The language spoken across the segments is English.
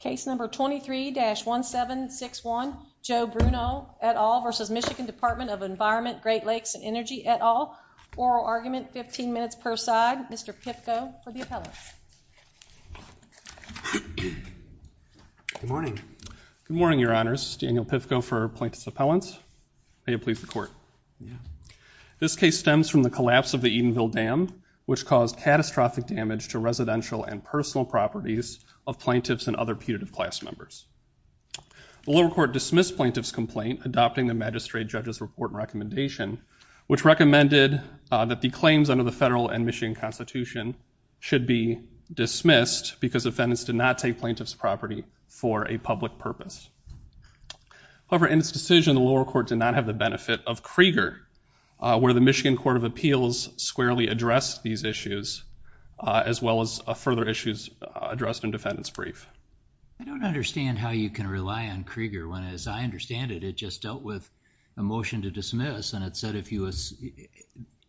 Case number 23-1761, Joe Bruneau et al. v. Michigan Dept of Environment, Great Lakes, and Energy et al. Oral argument, 15 minutes per side. Mr. Pivko for the appellants. Good morning. Good morning, your honors. Daniel Pivko for plaintiff's appellants. May it please the court. Yeah. This case stems from the collapse of the Edenville Dam, which caused catastrophic damage to residential and personal properties of plaintiffs and other putative class members. The lower court dismissed plaintiff's complaint, adopting the magistrate judge's report and recommendation, which recommended that the claims under the federal and Michigan Constitution should be dismissed because defendants did not take plaintiff's property for a public purpose. However, in this decision, the lower court did not have the benefit of Krieger, where the Michigan Court of Appeals squarely addressed these issues, as well as further issues addressed in defendant's brief. I don't understand how you can rely on Krieger when, as I understand it, it just dealt with a motion to dismiss, and it said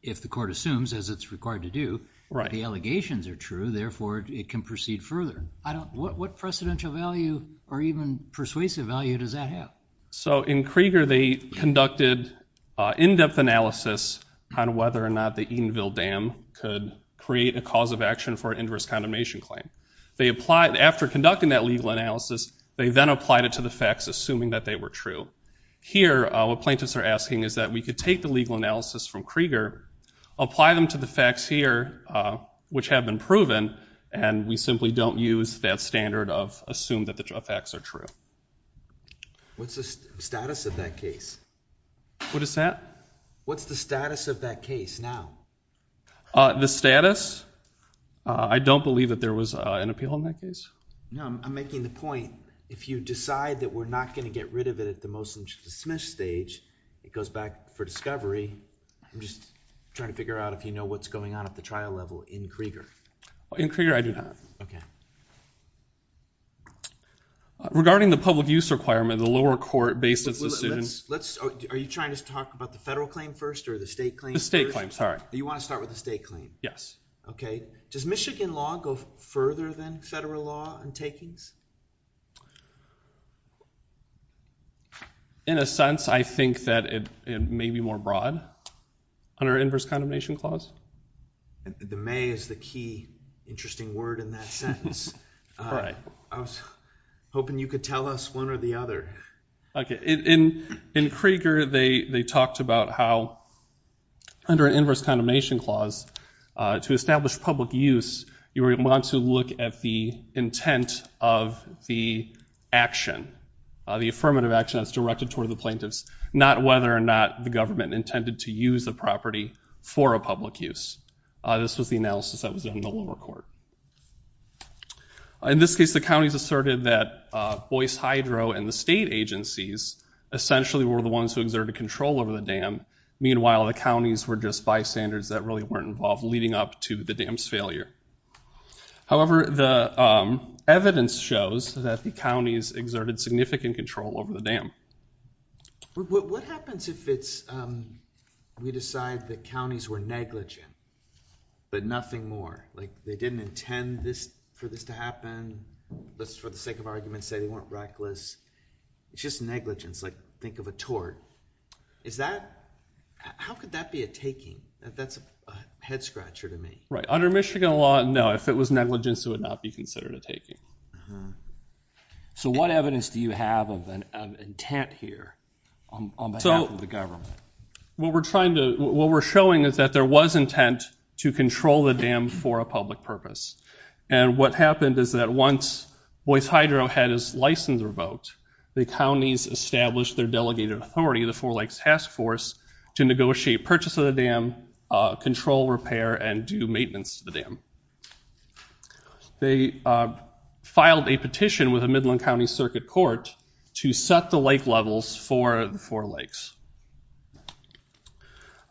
if the court assumes, as it's required to do, the allegations are true, therefore it can proceed further. What precedential value or even persuasive value does that have? So in Krieger, they conducted in-depth analysis on whether or not the Edenville Dam could create a cause of action for an inverse condemnation claim. After conducting that legal analysis, they then applied it to the facts, assuming that they were true. Here, what plaintiffs are asking is that we could take the legal analysis from Krieger, apply them to the facts here, which have been proven, and we simply don't use that standard of assume that the facts are true. What's the status of that case? What is that? What's the status of that case now? The status? I don't believe that there was an appeal in that case. No, I'm making the point, if you decide that we're not going to get rid of it at the motion to dismiss stage, it goes back for discovery. I'm just trying to figure out if you know what's going on at the trial level in Krieger. In Krieger, I do not. Okay. Regarding the public use requirement, the lower court based its decision. Are you trying to talk about the federal claim first or the state claim first? The state claim, sorry. You want to start with the state claim? Yes. Okay. Does Michigan law go further than federal law in takings? In a sense, I think that it may be more broad under inverse condemnation clause. The may is the key interesting word in that sentence. I was hoping you could tell us one or the other. In Krieger, they talked about how under an inverse condemnation clause, to establish public use, you want to look at the intent of the action, the affirmative action that's directed toward the plaintiffs, not whether or not the government intended to use the property for a public use. This was the analysis that was done in the lower court. In this case, the counties asserted that Boyce Hydro and the state agencies essentially were the ones who exerted control over the dam. Meanwhile, the counties were just bystanders that really weren't involved leading up to the dam's failure. However, the evidence shows that the counties exerted significant control over the dam. What happens if we decide the counties were negligent but nothing more? They didn't intend for this to happen. Let's, for the sake of argument, say they weren't reckless. It's just negligence. Think of a tort. How could that be a taking? That's a head-scratcher to me. Under Michigan law, no. If it was negligence, it would not be considered a taking. So what evidence do you have of intent here on behalf of the government? What we're showing is that there was intent to control the dam for a public purpose. And what happened is that once Boyce Hydro had his license revoked, the counties established their delegated authority, the Four Lakes Task Force, to negotiate purchase of the dam, control, repair, and do maintenance to the dam. They filed a petition with the Midland County Circuit Court to set the lake levels for the Four Lakes.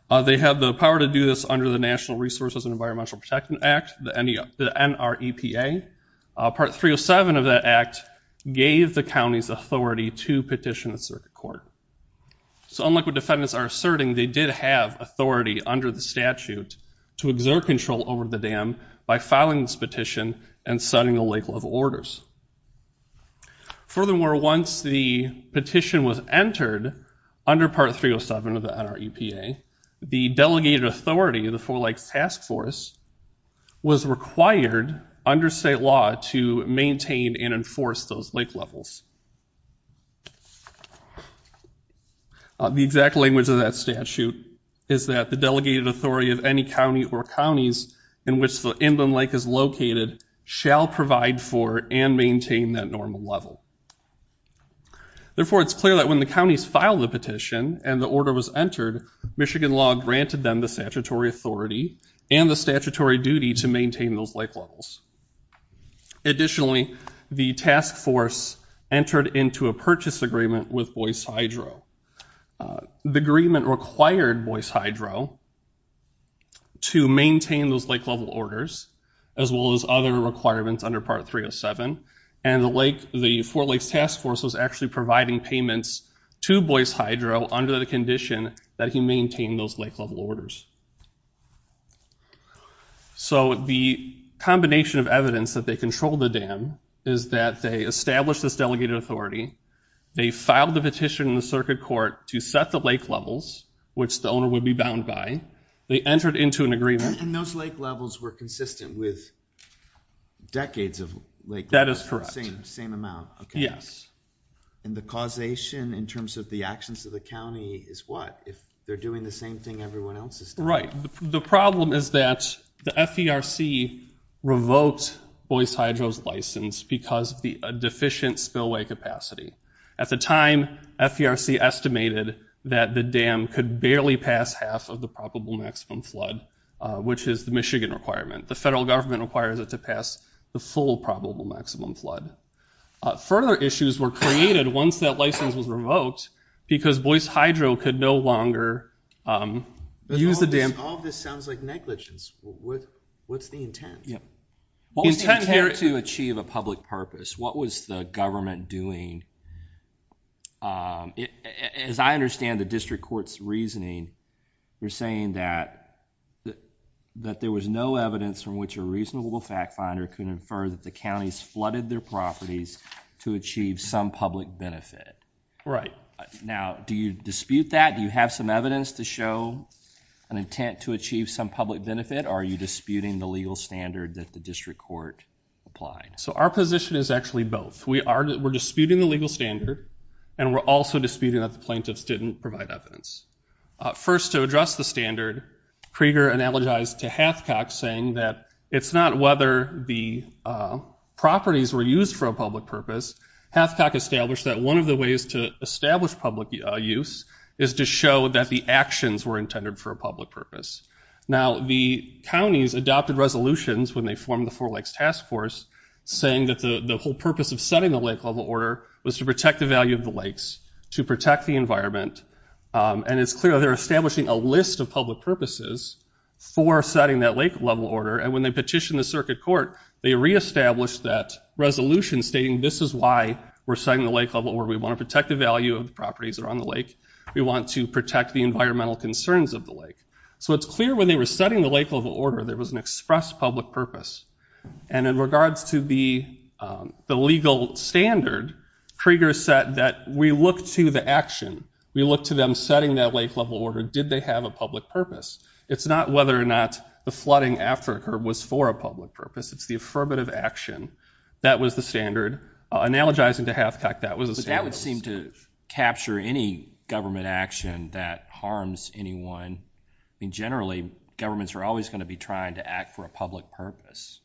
They have the power to do this under the National Resources and Environmental Protection Act, the NREPA. Part 307 of that act gave the counties authority to petition the circuit court. So unlike what defendants are asserting, they did have authority under the statute to exert control over the dam by filing this petition and setting the lake level orders. Furthermore, once the petition was entered under Part 307 of the NREPA, the delegated authority of the Four Lakes Task Force was required under state law to maintain and enforce those lake levels. The exact language of that statute is that the delegated authority of any county or counties in which the inland lake is located shall provide for and maintain that normal level. Therefore, it's clear that when the counties filed the petition and the order was entered, Michigan law granted them the statutory authority and the statutory duty to maintain those lake levels. Additionally, the task force entered into a purchase agreement with Boyce Hydro. The agreement required Boyce Hydro to maintain those lake level orders as well as other requirements under Part 307. And the Four Lakes Task Force was actually providing payments to Boyce Hydro under the condition that he maintain those lake level orders. So the combination of evidence that they controlled the dam is that they established this delegated authority. They filed the petition in the circuit court to set the lake levels, which the owner would be bound by. They entered into an agreement. And those lake levels were consistent with decades of lake levels? That is correct. Same amount? Yes. And the causation in terms of the actions of the county is what? If they're doing the same thing everyone else is doing? Right. The problem is that the FERC revoked Boyce Hydro's license because of the deficient spillway capacity. At the time, FERC estimated that the dam could barely pass half of the probable maximum flood, which is the Michigan requirement. The federal government requires it to pass the full probable maximum flood. Further issues were created once that license was revoked because Boyce Hydro could no longer use the dam. All of this sounds like negligence. What's the intent? The intent here is to achieve a public purpose. What was the government doing? As I understand the district court's reasoning, you're saying that there was no evidence from which a reasonable fact finder could infer that the counties flooded their properties to achieve some public benefit. Right. Now, do you dispute that? Do you have some evidence to show an intent to achieve some public benefit? Or are you disputing the legal standard that the district court applied? Our position is actually both. We're disputing the legal standard and we're also disputing that the plaintiffs didn't provide evidence. First, to address the standard, Krieger analogized to Hathcock saying that it's not whether the properties were used for a public purpose. Hathcock established that one of the ways to establish public use is to show that the actions were intended for a public purpose. Now, the counties adopted resolutions when they formed the Four Lakes Task Force saying that the whole purpose of setting the lake level order was to protect the value of the lakes, to protect the environment. And it's clear they're establishing a list of public purposes for setting that lake level order. And when they petitioned the circuit court, they re-established that resolution stating this is why we're setting the lake level order. We want to protect the value of the properties that are on the lake. We want to protect the environmental concerns of the lake. So it's clear when they were setting the lake level order there was an express public purpose. And in regards to the legal standard, Krieger said that we look to the action. We look to them setting that lake level order. Did they have a public purpose? It's not whether or not the flooding after it occurred was for a public purpose. It's the affirmative action. That was the standard. Analogizing to Hathcock, that was the standard. But that would seem to capture any government action that harms anyone. I mean, generally, governments are always going to be trying to act for a public purpose.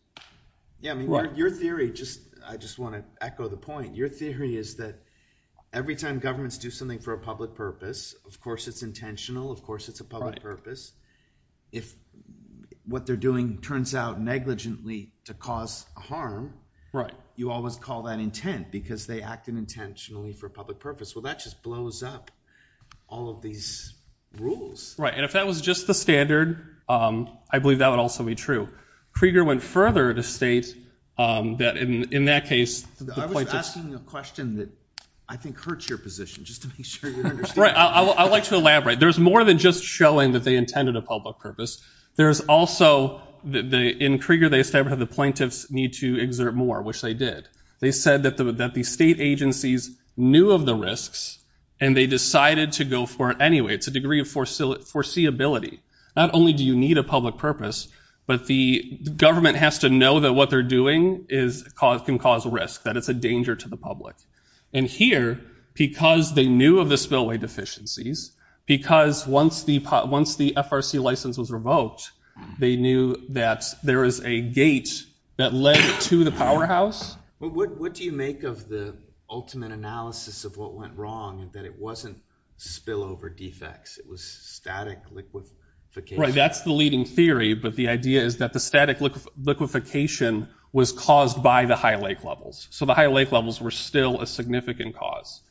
Yeah, I mean, your theory just, I just want to echo the point. Your theory is that every time governments do something for a public purpose, of course it's intentional, of course it's a public purpose. If what they're doing turns out negligently to cause harm, you always call that intent, because they acted intentionally for a public purpose. Well, that just blows up all of these rules. Right, and if that was just the standard, I believe that would also be true. Krieger went further to state that in that case, the point is I was asking a question that I think hurts your position, just to make sure you understand. Right, I'd like to elaborate. There's more than just showing that they intended a public purpose. There's also, in Krieger, they established that the plaintiffs need to exert more, which they did. They said that the state agencies knew of the risks, and they decided to go for it anyway. It's a degree of foreseeability. Not only do you need a public purpose, but the government has to know that what they're doing can cause risk, that it's a danger to the public. And here, because they knew of the spillway deficiencies, because once the FRC license was revoked, they knew that there is a gate that led to the powerhouse. What do you make of the ultimate analysis of what went wrong, and that it wasn't spillover defects? It was static liquefaction? Right, that's the leading theory, but the idea is that the static liquefaction was caused by the high lake levels. So the high lake levels were still a significant cause.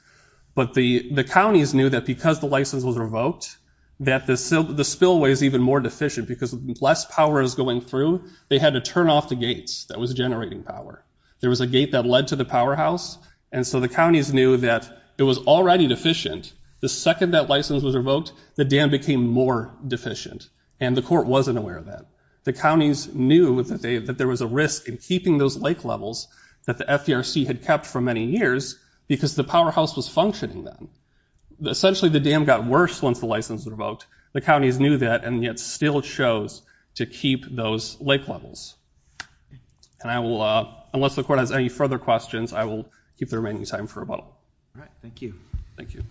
But the counties knew that because the license was revoked, that the spillway is even more deficient, because less power is going through, they had to turn off the gates that was generating power. There was a gate that led to the powerhouse, and so the counties knew that it was already deficient. The second that license was revoked, the dam became more deficient, and the court wasn't aware of that. The counties knew that there was a risk in keeping those lake levels that the FRC had kept for many years, because the powerhouse was functioning then. Essentially, the dam got worse once the license was revoked. The counties knew that, and yet still chose to keep those lake levels. And I will, unless the court has any further questions, I will keep the remaining time for a vote. All right, thank you. Thank you.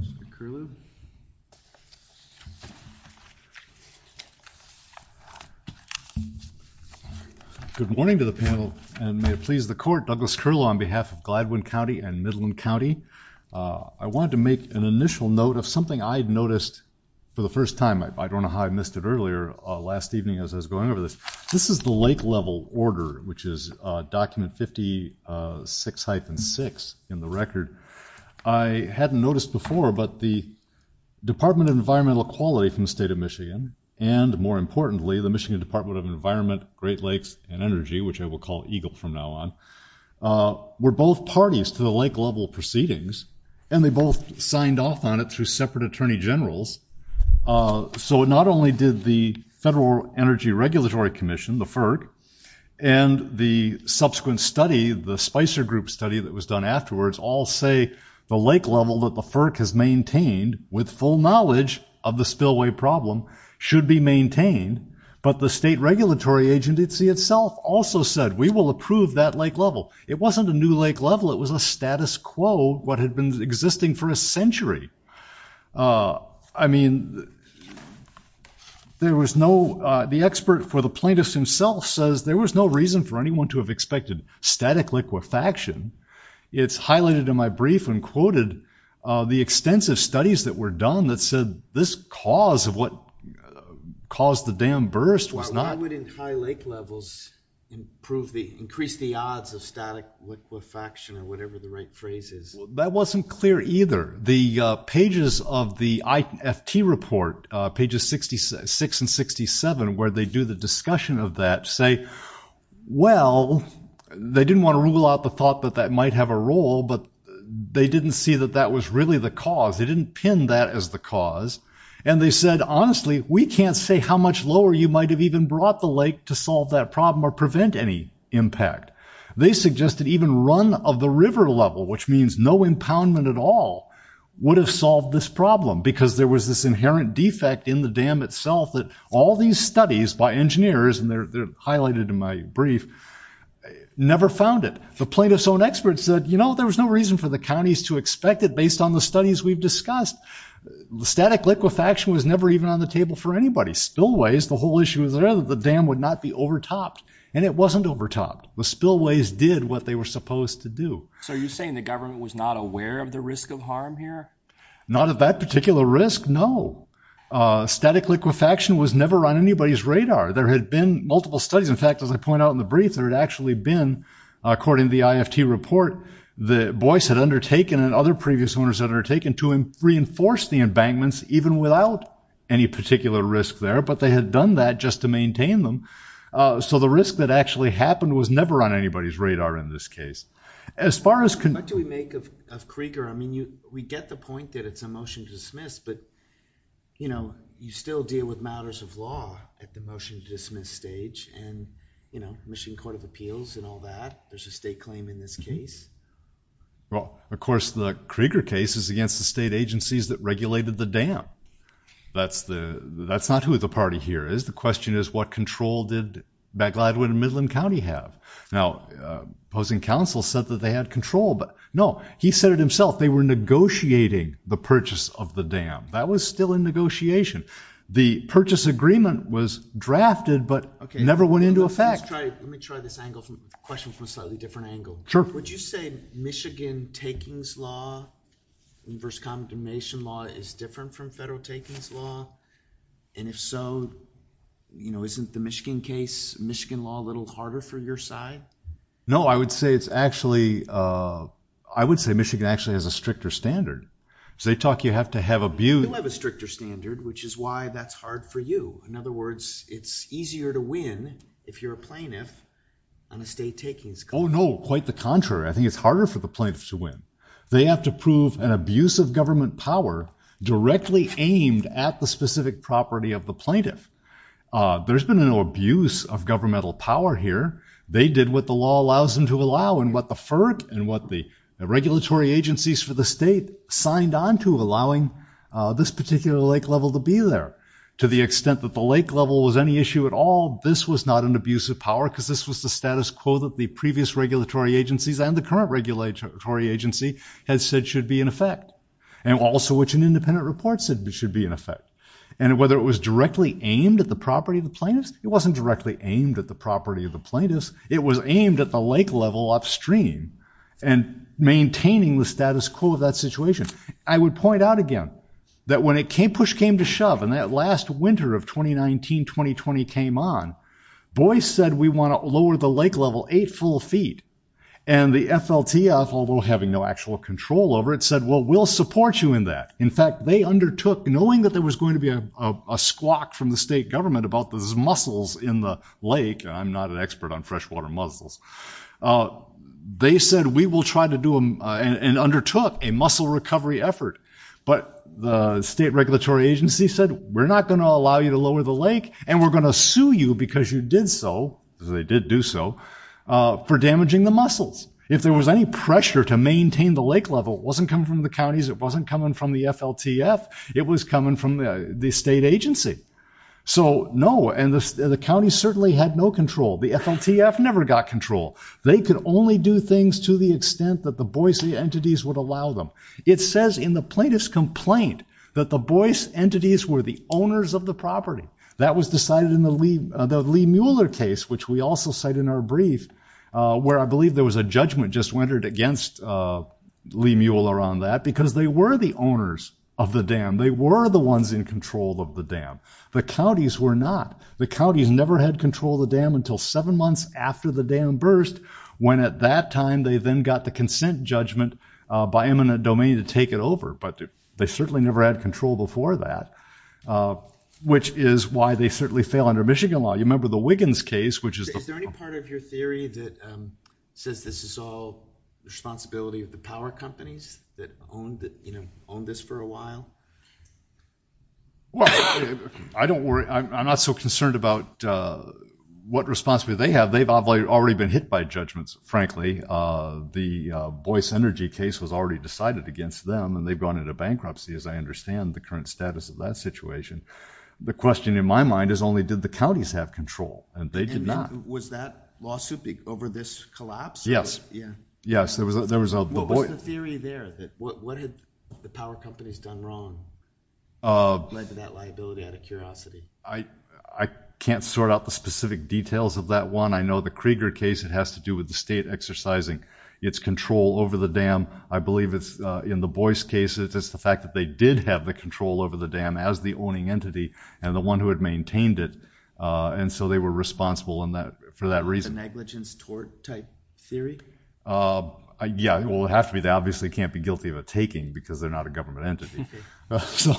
Mr. Curlew? Good morning to the panel, and may it please the court. Douglas Curlew on behalf of Gladwin County and Midland County. I wanted to make an initial note of something I had noticed for the first time. I don't know how I missed it earlier last evening as I was going over this. This is the lake level order, which is document 56-6 in the record. I hadn't noticed before, but the Department of Environmental Equality from the State of Michigan, and more importantly, the Michigan Department of Environment, Great Lakes, and Energy, which I will call EGLE from now on, were both parties to the lake level proceedings, and they both signed off on it through separate attorney generals. So it not only did the Federal Energy Regulatory Commission, the FERC, and the subsequent study, the Spicer Group study that was done afterwards, all say the lake level that the FERC has maintained, with full knowledge of the spillway problem, should be maintained. But the state regulatory agency itself also said, we will approve that lake level. It wasn't a new lake level. It was a status quo, what had been existing for a century. I mean, there was no, the expert for the plaintiffs himself says there was no reason for anyone to have expected static liquefaction. It's highlighted in my brief and quoted the extensive studies that were done that said this cause of what caused the damn burst was not. Why wouldn't high lake levels improve the, increase the odds of static liquefaction or whatever the right phrase is? That wasn't clear either. The pages of the IFT report, pages 66 and 67, where they do the discussion of that say, well, they didn't want to rule out the thought that that might have a role, but they didn't see that that was really the cause. They didn't pin that as the cause. And they said, honestly, we can't say how much lower you might've even brought the lake to solve that problem or prevent any impact. They suggested even run of the river level, which means no impoundment at all would have solved this problem because there was this inherent defect in the dam itself that all these studies by my brief never found it. The plaintiff's own experts said, you know, there was no reason for the counties to expect it based on the studies we've discussed. The static liquefaction was never even on the table for anybody spillways. The whole issue is that the dam would not be overtopped and it wasn't overtopped. The spillways did what they were supposed to do. So are you saying the government was not aware of the risk of harm here? Not at that particular risk. No. Static liquefaction was never on anybody's radar. There had been multiple studies. In fact, as I point out in the brief, there had actually been, according to the IFT report, the Boyce had undertaken and other previous owners that are taken to him, reinforce the embankments, even without any particular risk there, but they had done that just to maintain them. So the risk that actually happened was never on anybody's radar in this case, as far as can we make of, of Krieger. I mean, you, we get the point that it's a motion to dismiss, but you know, you still deal with matters of law at the motion to dismiss stage and, you know, Michigan court of appeals and all that. There's a state claim in this case. Well, of course the Krieger case is against the state agencies that regulated the dam. That's the, that's not who the party here is. The question is what control did back Gladwin and Midland County have now opposing counsel said that they had control, but no, he said it himself. They were negotiating the purchase of the dam. That was still in negotiation. The purchase agreement was drafted, but never went into effect. Let me try this angle from question from a slightly different angle. Would you say Michigan takings law versus condemnation law is different from federal takings law? And if so, you know, isn't the Michigan case Michigan law a little harder for your side? No, I would say it's actually, I would say Michigan actually has a stricter standard. So they talk, you have to have abused a stricter standard, which is why that's hard for you. In other words, it's easier to win if you're a plaintiff on a state takings. Oh, no, quite the contrary. I think it's harder for the plaintiffs to win. They have to prove an abuse of government power directly aimed at the specific property of the plaintiff. There's been an abuse of governmental power here. They did what the law allows them to allow and what the FERC and what the regulatory agencies for the state signed on to allowing this particular lake level to be there to the extent that the lake level was any issue at all. This was not an abuse of power because this was the status quo that the previous regulatory agencies and the current regulatory agency has said should be in effect and also which an independent report said should be in effect. And whether it was directly aimed at the property of the plaintiffs, it wasn't directly aimed at the property of the plaintiffs. It was aimed at the lake level upstream and maintaining the status quo of that situation. I would point out again that when it came push came to shove and that last winter of 2019, 2020 came on, Boyce said we want to lower the lake level eight full feet and the FLTF, although having no actual control over it said, well, we'll support you in that. In fact, they undertook knowing that there was going to be a squawk from the state government about those muscles in the lake. And I'm not an expert on freshwater mussels. They said we will try to do them and undertook a muscle recovery effort. But the state regulatory agency said, we're not going to allow you to lower the lake and we're going to sue you because you did. So they did do so for damaging the muscles. If there was any pressure to maintain the lake level, it wasn't coming from the counties. It wasn't coming from the FLTF. It was coming from the state agency. So no. And the county certainly had no control. The FLTF never got control. They could only do things to the extent that the Boise entities would allow them. It says in the plaintiff's complaint that the Boyce entities were the owners of the property that was decided in the Lee, the Lee Mueller case, which we also cite in our brief, where I believe there was a judgment just went against Lee Mueller on that because they were the owners of the dam. They were the ones in control of the dam. The counties were not. The counties never had control of the dam until seven months after the dam burst. When at that time, they then got the consent judgment by eminent domain to take it over. But they certainly never had control before that, which is why they certainly fail under Michigan law. You remember the Wiggins case, which is. Is there any part of your theory that says this is all responsibility of the power companies that owned, you know, own this for a while? Well, I don't worry. I'm not so concerned about what responsibility they have. They've already been hit by judgments. Frankly, the Boyce energy case was already decided against them and they've gone into bankruptcy. As I understand the current status of that situation. The question in my mind is only did the counties have control and they did not. Was that lawsuit over this collapse? Yes. Yeah. Yes. There was a, there was a theory there. What had the power companies done wrong? Led to that liability out of curiosity. I can't sort out the specific details of that one. I know the Krieger case, it has to do with the state exercising its control over the dam. I believe it's in the Boyce case. It's just the fact that they did have the control over the dam as the owning entity and the one who had maintained it. And so they were responsible in that for that reason. Negligence tort type theory. Yeah, it will have to be. They obviously can't be guilty of a taking because they're not a government entity. So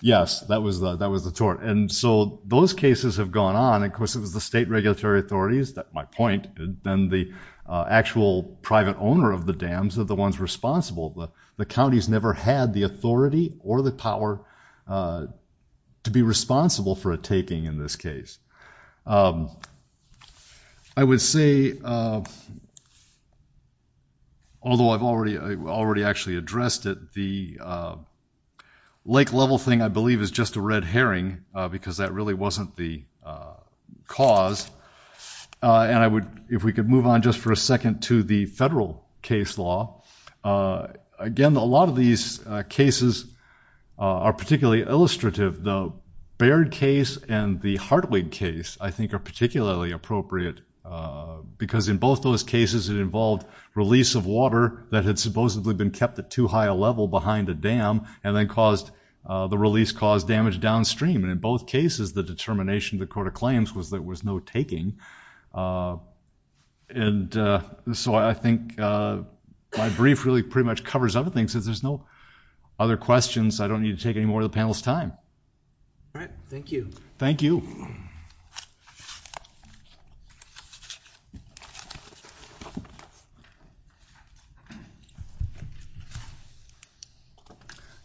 yes, that was the, that was the tort. And so those cases have gone on and of course it was the state regulatory authorities that my point, then the actual private owner of the dams are the ones responsible. The counties never had the authority or the power to be responsible for a taking in this case. I would say, although I've already, I already actually addressed it. The lake level thing I believe is just a red herring because that really wasn't the cause. And I would, if we could move on just for a second to the federal case law again, a lot of these cases are particularly illustrative. The Baird case and the Hartwig case I think are particularly appropriate because in both those cases, it involved release of water that had supposedly been kept at too high a level behind the dam and then caused the release caused damage downstream. And in both cases, the determination of the court of claims was that was no taking. And so I think my brief really pretty much covers everything since there's no other questions. I don't need to take any more of the panel's time. All right. Thank you. Thank you.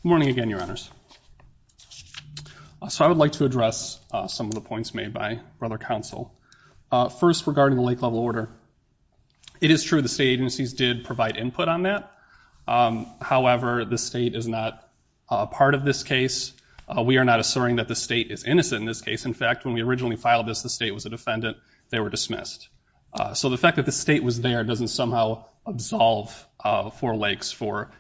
Morning again, your honors. So I would like to address some of the points made by brother counsel. First regarding the lake level order. It is true. The state agencies did provide input on that. However, the state is not a part of this case. We are not asserting that the state is innocent in this case. In fact, when we originally filed this, the state was a defendant. They were dismissed. So the fact that the state was there, it doesn't somehow absolve four lakes for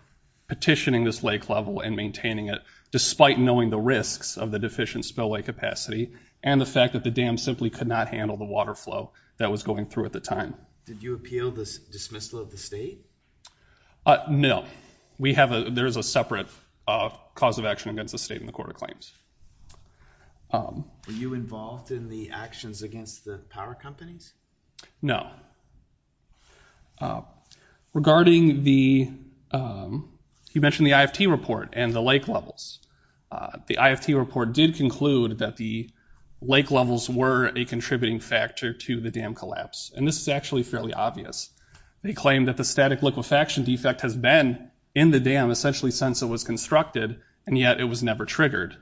petitioning this lake level and maintaining it, despite knowing the risks of the deficient spillway capacity and the fact that the dam simply could not handle the water flow that was going through at the time. Did you appeal this dismissal of the state? No, we have a, there is a separate cause of action against the state in the court of claims. Um, were you involved in the actions against the power companies? No. Uh, regarding the, um, you mentioned the IFT report and the lake levels. Uh, the IFT report did conclude that the lake levels were a contributing factor to the dam collapse. And this is actually fairly obvious. They claimed that the static liquefaction defect has been in the dam essentially since it was constructed and yet it was never triggered.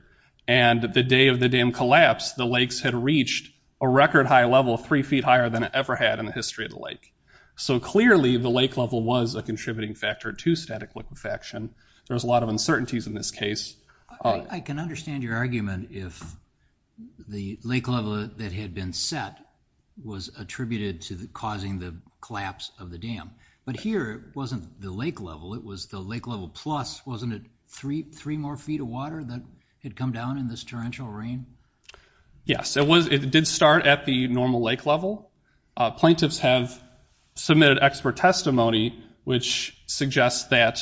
And the day of the dam collapse, the lakes had reached a record high level of three feet higher than it ever had in the history of the lake. So clearly the lake level was a contributing factor to static liquefaction. There was a lot of uncertainties in this case. I can understand your argument if the lake level that had been set was attributed to the causing the collapse of the dam, but here it wasn't the lake level. It was the lake level plus wasn't it three, three more feet of water that had come down in this torrential rain? Yes, it was. It did start at the normal lake level. Uh, plaintiffs have submitted expert testimony, which suggests that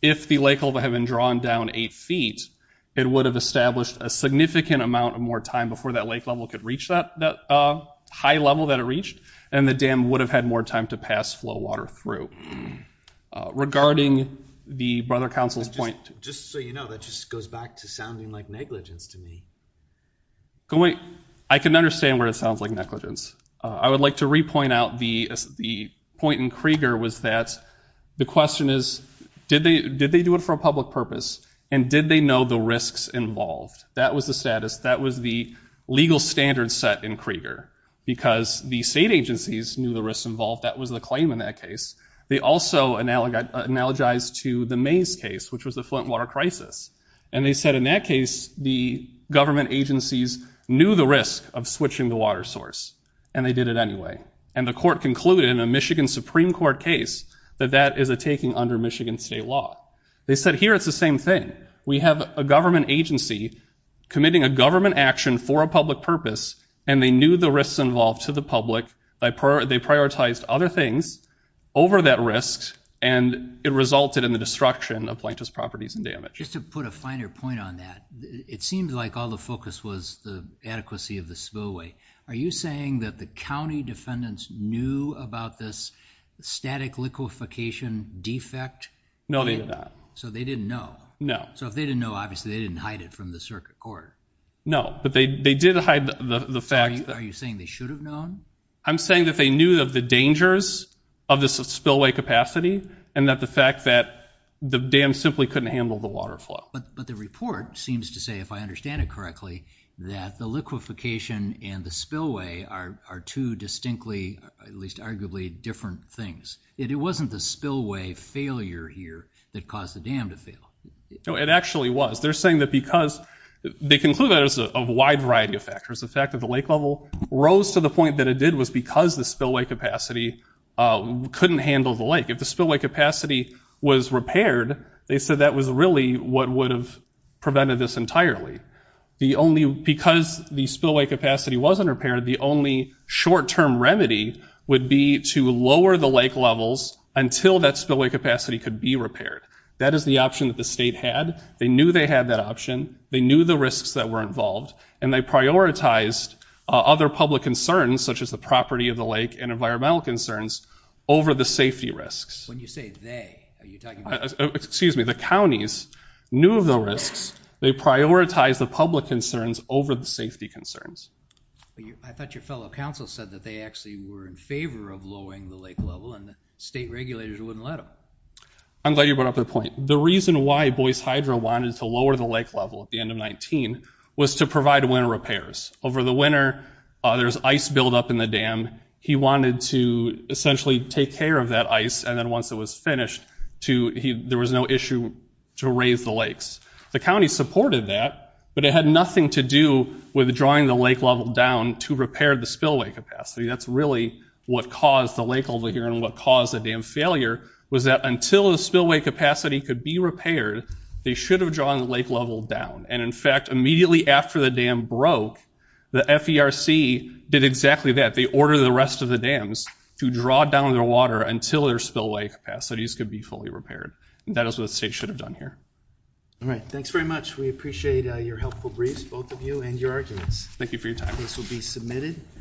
if the lake level had been drawn down eight feet, it would have established a significant amount of more time before that lake level could reach that, that, uh, high level that it reached and the dam would have had more time to pass flow water through. Uh, regarding the brother council's point. Just so you know, that just goes back to sounding like negligence to me. I can understand where it sounds like negligence. Uh, I would like to repoint out the, the point in Krieger was that the question is, did they, did they do it for a public purpose? And did they know the risks involved? That was the status. That was the legal standard set in Krieger because the state agencies knew the claim in that case. They also analog, analogized to the maze case, which was the Flint water crisis. And they said in that case, the government agencies knew the risk of switching the water source and they did it anyway. And the court concluded in a Michigan Supreme court case that that is a taking under Michigan state law. They said here, it's the same thing. We have a government agency committing a government action for a public purpose and they knew the risks involved to the public. They prioritized other things over that risks. And it resulted in the destruction of plaintiff's properties and damage. Just to put a finer point on that. It seems like all the focus was the adequacy of the spillway. Are you saying that the County defendants knew about this static liquefaction defect? No, they did not. So they didn't know. No. So if they didn't know, obviously they didn't hide it from the circuit court. No, but they, they did hide the fact. Are you saying they should have known? I'm saying that they knew of the dangers of this spillway capacity and that the fact that the dam simply couldn't handle the water flow. But the report seems to say, if I understand it correctly, that the liquefaction and the spillway are two distinctly, at least arguably, different things. It wasn't the spillway failure here that caused the dam to fail. No, it actually was. They're saying that because they conclude that it was a wide variety of people rose to the point that it did was because the spillway capacity couldn't handle the lake. If the spillway capacity was repaired, they said that was really what would have prevented this entirely. The only, because the spillway capacity wasn't repaired, the only short-term remedy would be to lower the lake levels until that spillway capacity could be repaired. That is the option that the state had. They knew they had that option. They knew the risks that were involved. And they prioritized other public concerns, such as the property of the lake and environmental concerns, over the safety risks. When you say they, are you talking about? Excuse me, the counties knew of the risks. They prioritized the public concerns over the safety concerns. I thought your fellow council said that they actually were in favor of lowering the lake level and the state regulators wouldn't let them. I'm glad you brought up that point. The reason why Boyce Hydro wanted to lower the lake level at the end of 19 was to provide winter repairs. Over the winter, there's ice buildup in the dam. He wanted to essentially take care of that ice and then once it was finished, there was no issue to raise the lakes. The county supported that, but it had nothing to do with drawing the lake level down to repair the spillway capacity. That's really what caused the lake over here and what caused the dam failure was that until the spillway capacity could be repaired, they should have drawn the lake level down. In fact, immediately after the dam broke, the FERC did exactly that. They ordered the rest of the dams to draw down their water until their spillway capacities could be fully repaired. That is what the state should have done here. All right, thanks very much. We appreciate your helpful briefs, both of you, and your arguments. Thank you for your time. This will be submitted.